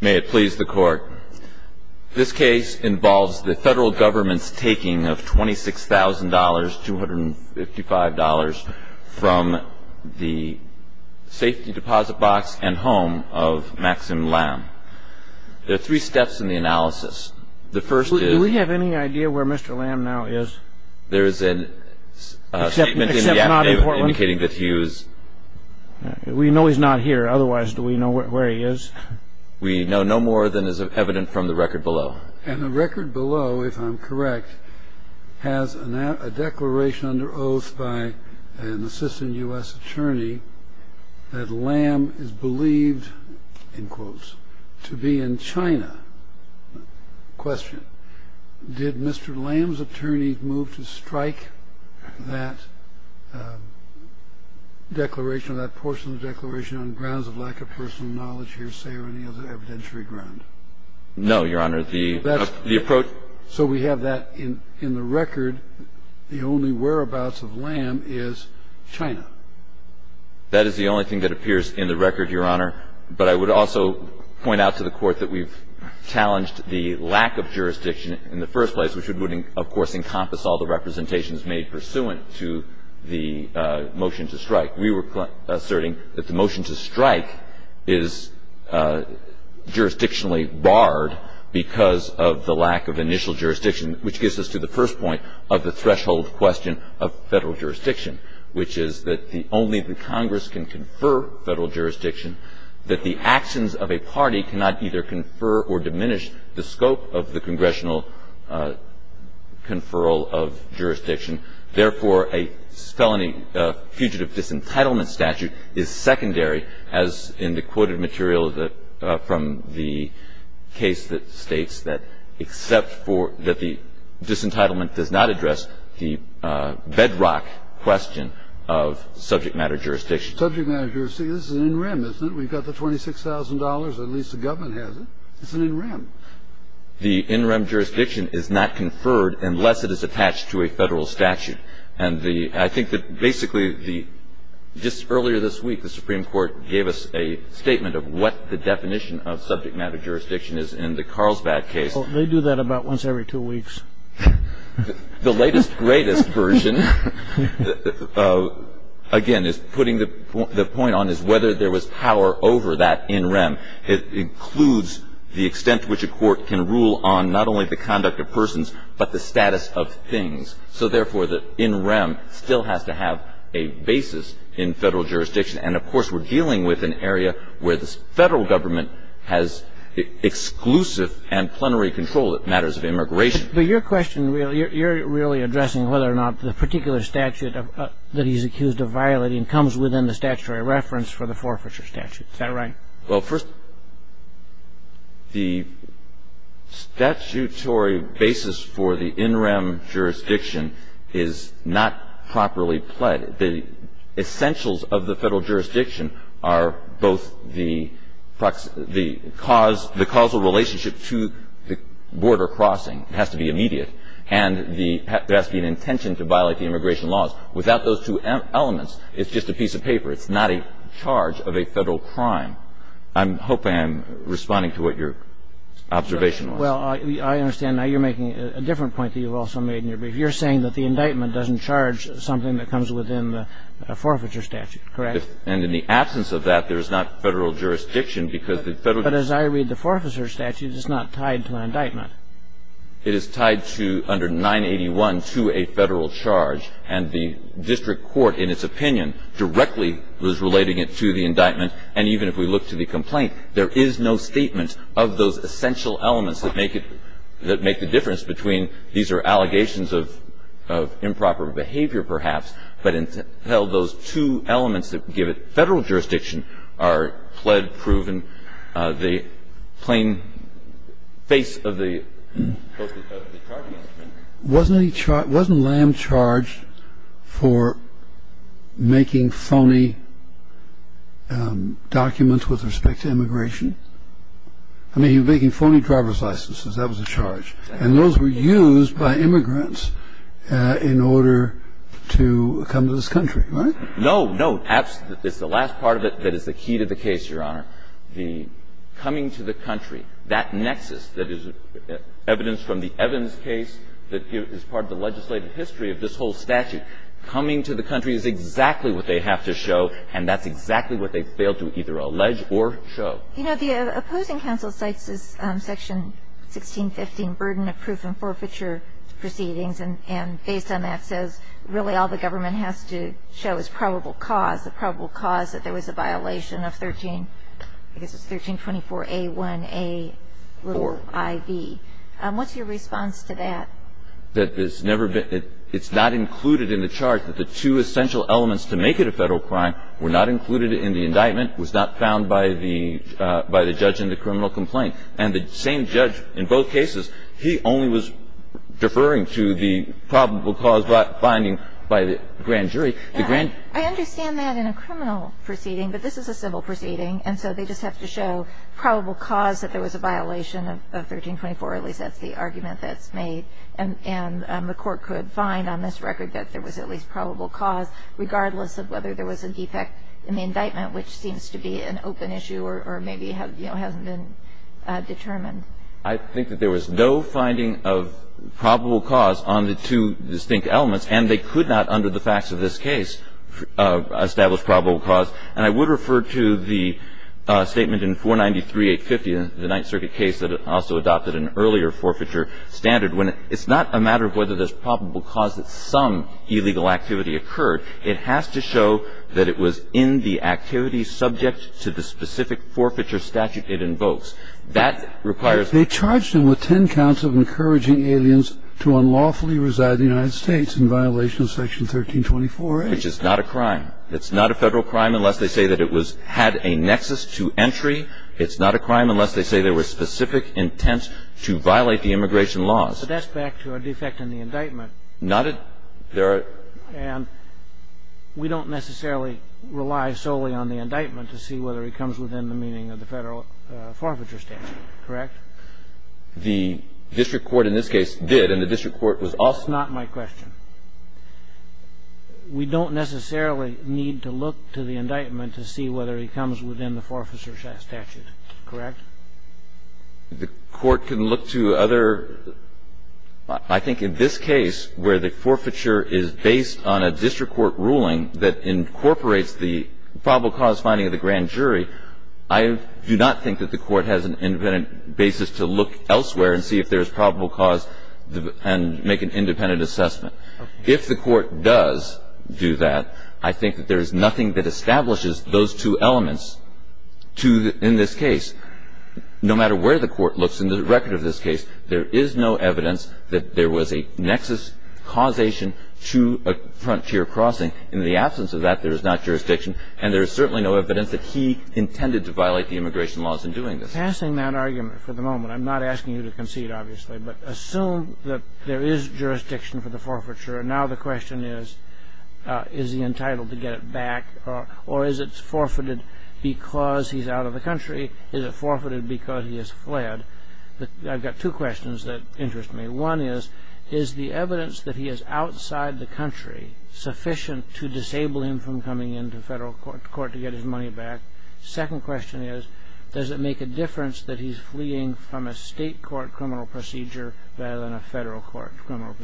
may it please the court this case involves the federal government's taking of $26,000 $255 from the safety deposit box and home of Maxim Lam there are three steps in the analysis the first do we have any idea where mr. Lam now is there is a statement indicating that he was we know he's not here otherwise do you know where he is we know no more than is evident from the record below and the record below if I'm correct has a declaration under oath by an assistant u.s. attorney that Lam is believed in quotes to be in China question did mr. Lam's attorney move to strike that declaration that portion of declaration on grounds of lack of personal knowledge here say or any other evidentiary ground no your honor the the approach so we have that in in the record the only whereabouts of Lam is China that is the only thing that appears in the record your honor but I would also point out to the court that we've challenged the lack of jurisdiction in the first place which would of course encompass all the representations made pursuant to the motion to strike we were asserting that the motion to strike is jurisdictionally barred because of the lack of initial jurisdiction which gives us to the first point of the threshold question of federal jurisdiction which is that the only the Congress can confer federal jurisdiction that the actions of a party cannot either confer or diminish the scope of the congressional conferral of the in rem jurisdiction is not conferred unless it is attached to a federal statute and the I think that basically the just earlier this week the Supreme Court gave us a statement of what the definition of subject matter jurisdiction is in the Carlsbad case they do that about once every two weeks the latest greatest version again is putting the point on is whether there was power over that in rem it includes the extent which a court can rule on not only the conduct of persons but the status of things so therefore the in rem still has to have a the statutory basis for the in rem jurisdiction is not properly pled the essentials of the federal jurisdiction are both the causal relationship to the border crossing it has to be immediate and it has to be an intention to violate the immigration laws without those two elements it's just a piece of paper it's not a charge of a federal crime I'm hoping I'm responding to what your observation was well I understand now you're making a different point that you've also made in your brief you're saying that the indictment doesn't charge something that comes within the forfeiture statute correct and in the absence of that there is not federal jurisdiction because the federal but as I read the forfeiture statute it's not tied to an indictment it is tied to under 981 to a federal charge and the district court in its opinion directly was relating it to the indictment and even if we look to the complaint there is no statement of those essential elements that make it that make the difference between these are allegations of improper behavior perhaps but until those two elements that give it federal jurisdiction are pled proven the plain face of the wasn't lamb charged for making phony documents with respect to immigration I mean you're making phony driver's licenses that was a charge and those were used by immigrants in order to come to this country right no no absolutely it's the last part of it that is the key to the case your honor the coming to the country that nexus that is evidence from the Evans case that is part of the legislative history of this whole statute coming to the country is exactly what they have to show and that's exactly what they section 1615 burden of proof and forfeiture proceedings and based on that says really all the government has to show is probable cause the probable cause that there was a violation of 13 I guess it's 1324 a1a IV what's your response to that that has never been it's not included in the charge that the two essential elements to make it a federal crime were not included in the indictment was not found by the by the judge in the criminal complaint and the same judge in both cases he only was deferring to the probable cause but finding by the grand jury the grand I understand that in a criminal proceeding but this is a civil proceeding and so they just have to show probable cause that there was a violation of 1324 at least that's the argument that's made and and the court could find on this record that there was at least probable cause regardless of whether there was a defect in the indictment which seems to be an open issue or maybe have you know something determined I think that there was no finding of probable cause on the two distinct elements and they could not under the facts of this case establish probable cause and I would refer to the statement in 493 850 the Ninth Circuit case that also adopted an earlier forfeiture standard when it's not a matter of whether there's probable cause that some illegal activity occurred it has to show that it was in the activity subject to the specific forfeiture statute it invokes that requires they charged him with 10 counts of encouraging aliens to unlawfully reside the United States in violation of section 1324 which is not a crime it's not a federal crime unless they say that it was had a nexus to entry it's not a crime unless they say there were specific intent to violate the immigration laws that's back to a defect in the indictment not it there and we don't necessarily rely solely on the indictment to see whether he comes within the meaning of the federal forfeiture statute correct the district court in this case did and the district court was also not my question we don't necessarily need to look to the indictment to see whether he comes within the forfeiture statute correct the court can look to other I think in this case where the forfeiture is based on a district court ruling that incorporates the probable cause finding of the grand jury I do not think that the court has an independent basis to look elsewhere and see if there's probable cause and make an independent assessment if the court does do that I think that there is nothing that establishes those two elements to in this case no matter where the court looks in the record of this case there is no evidence that there was a nexus causation to a frontier crossing in the absence of that there is not jurisdiction and there is certainly no evidence that he intended to violate the immigration laws in doing this passing that argument for the moment I'm not asking you to concede obviously but assume that there is jurisdiction for the forfeiture and now the question is is he entitled to get it back or is it forfeited because he's out of the country is it forfeited because he has fled I've got two questions that interest me one is is the evidence that he is outside the country sufficient to disable him from coming into federal court to get his money back second question is does it make a difference that he's fleeing from a state court criminal procedure rather than a federal court criminal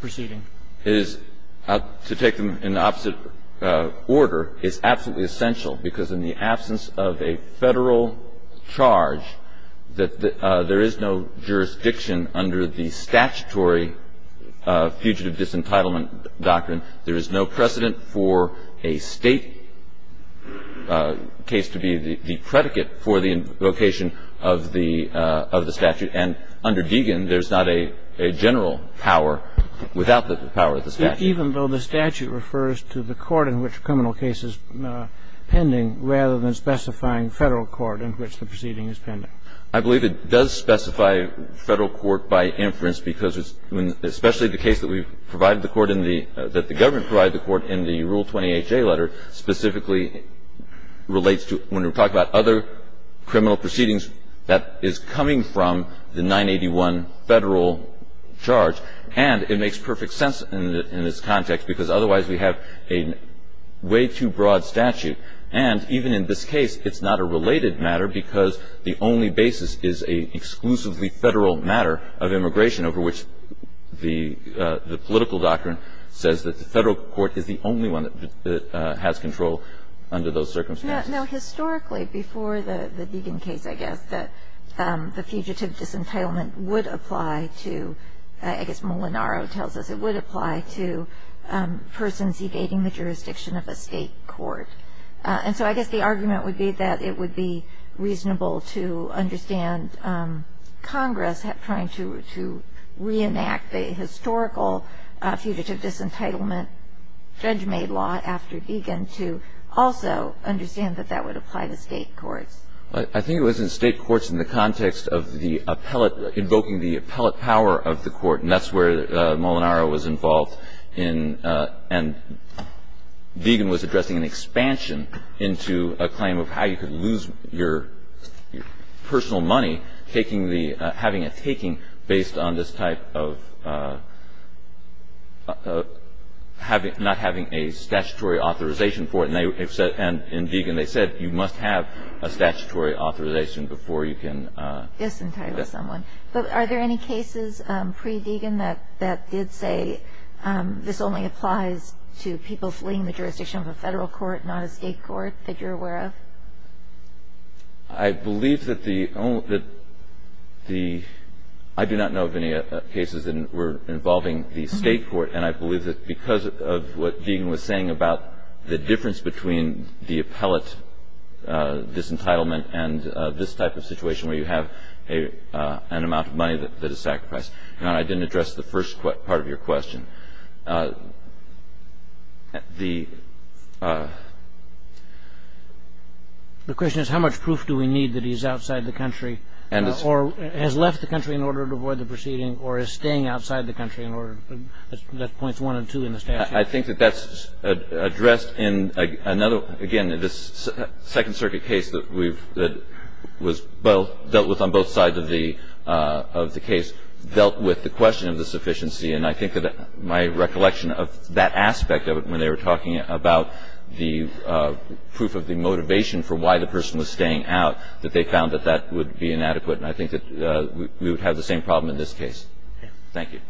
proceeding is to take them in the opposite order is absolutely essential because in the absence of a federal charge that there is no jurisdiction under the statutory fugitive disentitlement doctrine there is no precedent for a state case to be the predicate for the location of the statute and under Deegan there's not a general power without the power of the statute even though the statute refers to the court in which a criminal case is pending rather than specifying federal court in which the proceeding is pending I believe it does specify federal court by inference because it's when especially the case that we've provided the court in the that the government provided the court in the rule 28 J letter specifically relates to when we talk about other criminal proceedings that is coming from the 981 federal charge and it makes perfect sense in its context because otherwise we have a way too broad statute and even in this case it's not a related matter because the only basis is a exclusively federal matter of immigration over which the political doctrine says that the federal court is the only one that has control under those circumstances historically before the Deegan case I guess that the fugitive disentitlement would apply to I guess Molinaro tells us it would apply to persons evading the jurisdiction of a state court and so I guess the argument would be that it would be reasonable to understand Congress trying to reenact the historical fugitive disentitlement judge made law after Deegan to also understand that that would apply to state courts I think it was in state courts in the context of the appellate invoking the appellate power of the court and that's where Molinaro was involved in and Deegan was addressing an expansion into a claim of how you could lose your personal money taking the having a taking based on this type of having not having a statutory authorization for it and in Deegan they said you must have a statutory authorization before you can disentangle someone but are there any cases pre-Deegan that did say this only applies to people fleeing the jurisdiction of a federal court not a state court that you're aware of I believe that the only that the I do not know of any cases that were involving the state court and I believe that because of what Deegan was saying about the difference between the appellate disentitlement and this type of situation where you have a an amount of money that is sacrificed and I didn't address the first part of your question the the question is how much proof do we need that he's outside the country and or has left the country in the statute I think that that's addressed in another again in this second circuit case that we've that was well dealt with on both sides of the of the case dealt with the question of the sufficiency and I think that my recollection of that aspect of it when they were talking about the proof of the motivation for why the person was staying out that they found that that would be inadequate and I think that we would have the same problem in this case thank you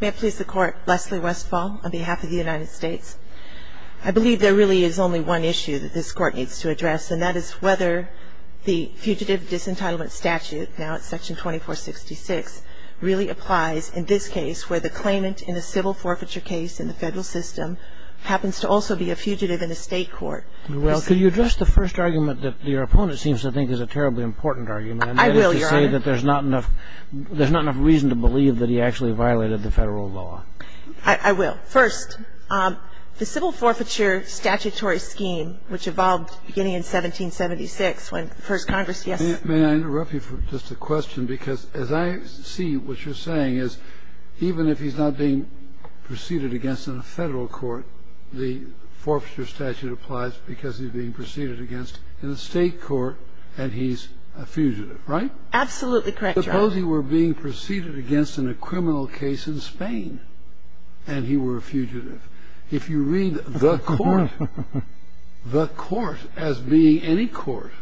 may I please the court Leslie Westfall on behalf of the United States I believe there really is only one issue that this court needs to address and that is whether the fugitive disentitlement statute now it's section 2466 really applies in this case where the claimant in the civil forfeiture case in the federal system happens to also be a fugitive in the state court well can you address the first argument that your opponent seems to think is a terribly important argument I will say that there's not enough there's not enough reason to believe that he actually violated the federal law I will first the civil forfeiture statutory scheme which evolved beginning in 1776 when first Congress yes may I interrupt you for just a question because as I see what you're saying is even if he's not being preceded against in a federal court the forfeiture statute applies because he's being preceded against in a state court and he's a fugitive right absolutely correct suppose he were being preceded against in a criminal case in Spain and he were a fugitive if you read the court the court as being any court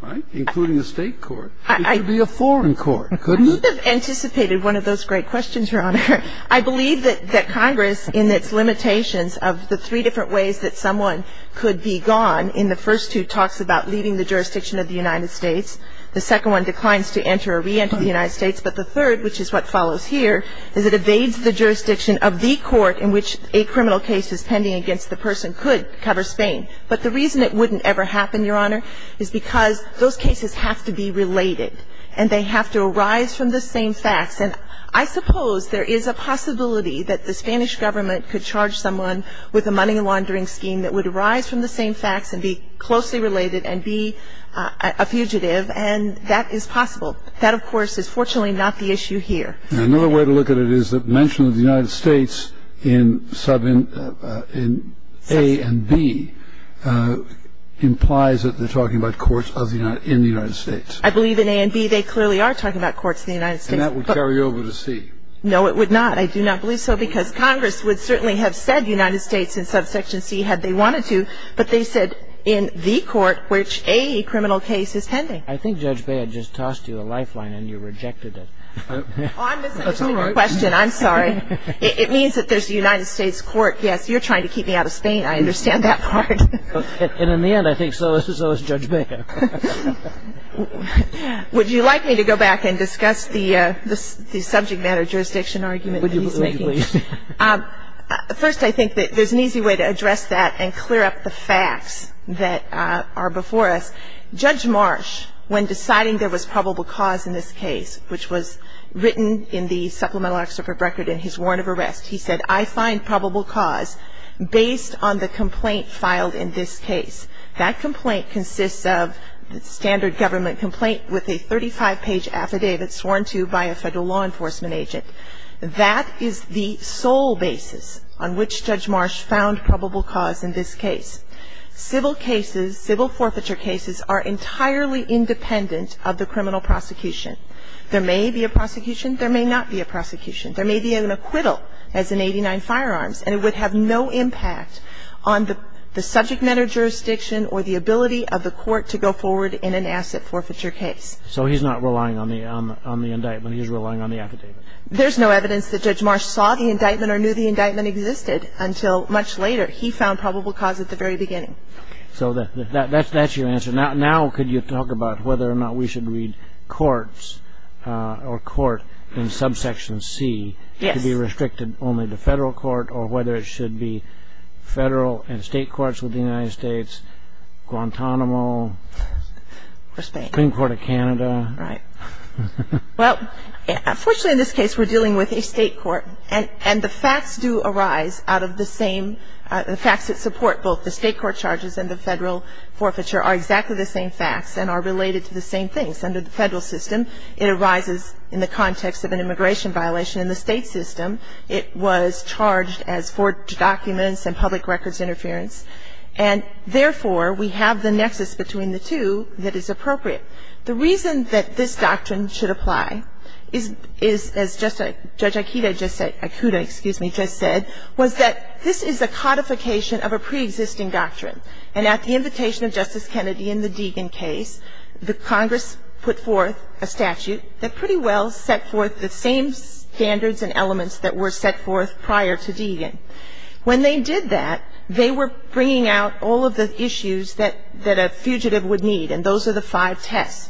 right including a state court it could be a foreign court you could have anticipated one of those great questions your honor I believe that that Congress in its limitations of the three different ways that someone could be gone in the first two talks about leaving the jurisdiction of the United States the second one declines to enter or re-enter the United States but the third which is what follows here is it evades the jurisdiction of the court in which a criminal case is pending against the person could cover Spain but the reason it wouldn't ever happen your honor is because those cases have to be related and they have to arise from the same facts and I suppose there is a possibility that the Spanish government could charge someone with a money laundering scheme that would arise from the same facts and be closely related and be a fugitive and that is possible that of course is fortunately not the issue here another way to look at it is the mention of the United States in sub in A and B implies that they are talking about courts in the United States I believe in A and B they clearly are talking about courts in the United States and that would carry over to C no it would not I do not believe so because Congress would certainly have said United States in subsection C had they wanted to but they said in the court which a criminal case is pending I think Judge Bay had just tossed you a lifeline and you court yes you are trying to keep me out of Spain I understand that part and in the end I think so is Judge Bay would you like me to go back and discuss the subject matter jurisdiction argument first I think there is an easy way to address that and clear up the facts that are before us Judge Marsh when deciding there was probable cause in this case which was written in the supplemental excerpt of record in his warrant of arrest he said I find probable cause based on the complaint filed in this case that complaint consists of the standard government complaint with a 35 page affidavit sworn to by a federal law enforcement agent that is the sole basis on which Judge Marsh found probable cause in this case civil cases civil forfeiture cases are entirely independent of the criminal prosecution there may be a prosecution there may not be a prosecution there may be an acquittal as in 89 firearms and it would have no impact on the subject matter jurisdiction or the ability of the court to go forward in an asset forfeiture case so he is not relying on the indictment he is relying on the affidavit there is no evidence that Judge Marsh saw the indictment or knew the indictment existed until much later he found probable cause at the very beginning so that is your answer now could you talk about whether or not we in subsection c to be restricted only to federal court or whether it should be federal and state courts within the United States Guantanamo or the Supreme Court of Canada right well unfortunately in this case we are dealing with a state court and the facts do arise out of the same the facts that support both the state court charges and the federal forfeiture are exactly the same facts and are related to the same things under the federal system it arises in the context of an immigration violation in the state system it was charged as forged documents and public records interference and therefore we have the nexus between the two that is appropriate the reason that this doctrine should apply is as Judge Akita just said was that this is a codification of a pre-existing doctrine and at the invitation of Justice Kennedy in the Deegan case the Congress put forth a statute that pretty well set forth the same standards and elements that were set forth prior to Deegan when they did that they were bringing out all of the issues that a fugitive would need and those are the five tests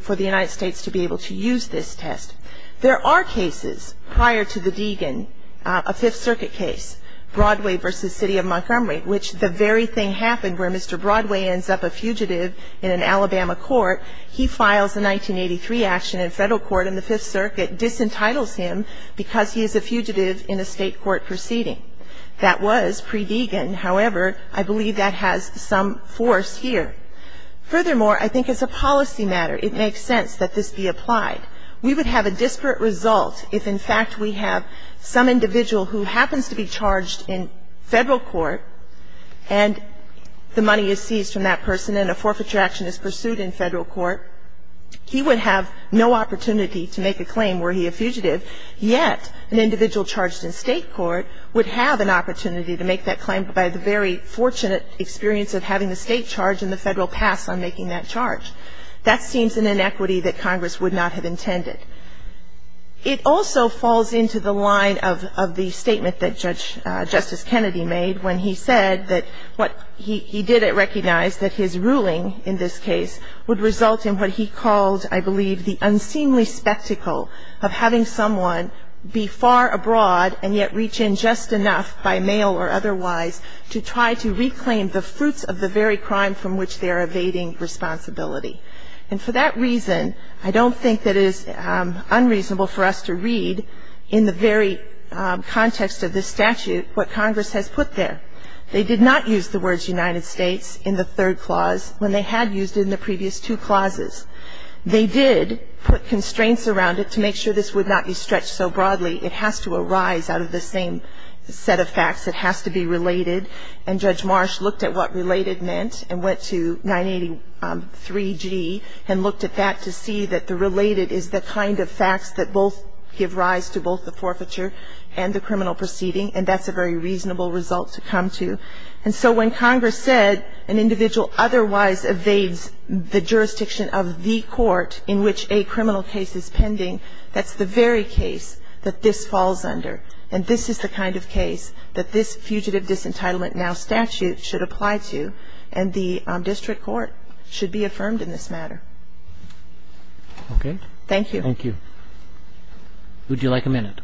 for the United States to be able to use this test there are cases prior to the Deegan a fifth circuit case Broadway v. City of Montgomery which the very thing happened where Mr. Broadway ends up a fugitive in an Alabama court he files a 1983 action in federal court and the fifth circuit disentitles him because he is a fugitive in a state court proceeding that was pre-Deegan however I believe that has some force here furthermore I think it's a policy matter it makes sense that this be applied we would have a disparate result if in fact we have some individual who happens to be charged in federal court and the money is seized from that person and a forfeiture action is pursued in federal court he would have no opportunity to make a claim were he a fugitive yet an individual charged in state court would have an opportunity to make that claim by the very fortunate experience of having the state charge and the federal pass on making that charge that seems an inequity that Congress would not have intended it also falls into the line of the statement that Judge Justice Kennedy made when he said that what he didn't recognize that his ruling in this case would result in what he called I believe the unseemly spectacle of having someone be far abroad and yet reach in just enough by mail or otherwise to try to reclaim the fruits of the very crime from which they are evading responsibility and for that reason I don't think that it is unreasonable for us to read in the very context of this statute what Congress has put there they did not use the words United States in the third clause when they had used it in the previous two clauses they did put constraints around it to make sure this would not be stretched so broadly it has to arise out of the same set of facts it has to be related and Judge Marsh looked at what related meant and went to 983G and looked at that to see that the related is the kind of facts that both give rise to both the forfeiture and the criminal proceeding and that's a very reasonable result to come to and so when Congress said an individual otherwise evades the jurisdiction of the court in which a criminal case is pending that's the very case that this falls under and this is the kind of case that this fugitive disentitlement now statute should apply to and the district court should be affirmed in this matter okay thank you thank you would you like a minute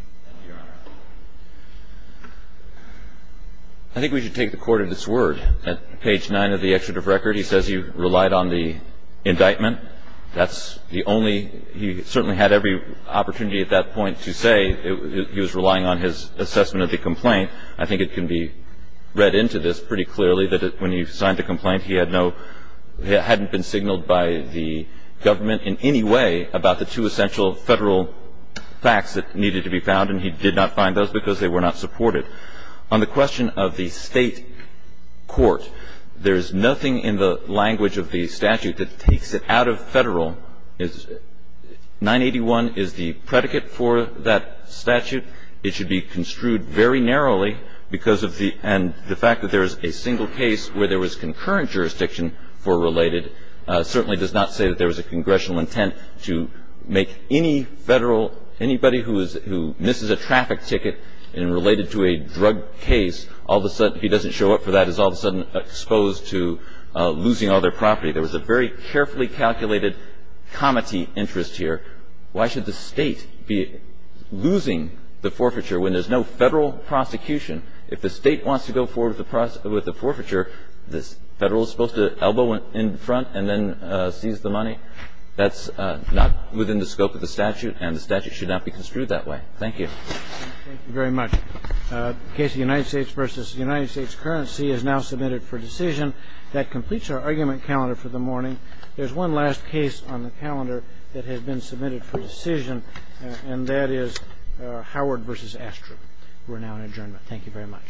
I think we should take the court of this word at page 9 of the excerpt of record he says you relied on the indictment that's the only he certainly had every opportunity at that point to say he was relying on his assessment of the complaint I think it can be read into this pretty clearly that when he signed the complaint he had no hadn't been signaled by the government in any way about the two essential federal facts that needed to be found and he did not find those because they were not supported on the question of the state court there is nothing in the language of the statute that takes it out of federal is 981 is the predicate for that statute it should be construed very narrowly because of the and the fact that there is a single case where there was concurrent jurisdiction for related certainly does not say that there was a congressional intent to make any federal anybody who is who misses a traffic ticket and related to a drug case all of a sudden he doesn't show up for that is all of a sudden exposed to losing all their property there was a very carefully calculated comity interest here why should the state be losing the forfeiture when there's no federal prosecution if the state wants to go forward with the forfeiture this federal is supposed to elbow in front and then seize the money that's not within the scope of the statute and the statute should not be construed that way thank you very much case united states versus united states currency is now submitted for decision that completes our argument calendar for the morning there's one last case on the calendar that has been submitted for decision and that is howard versus astro we're now in adjournment thank you very much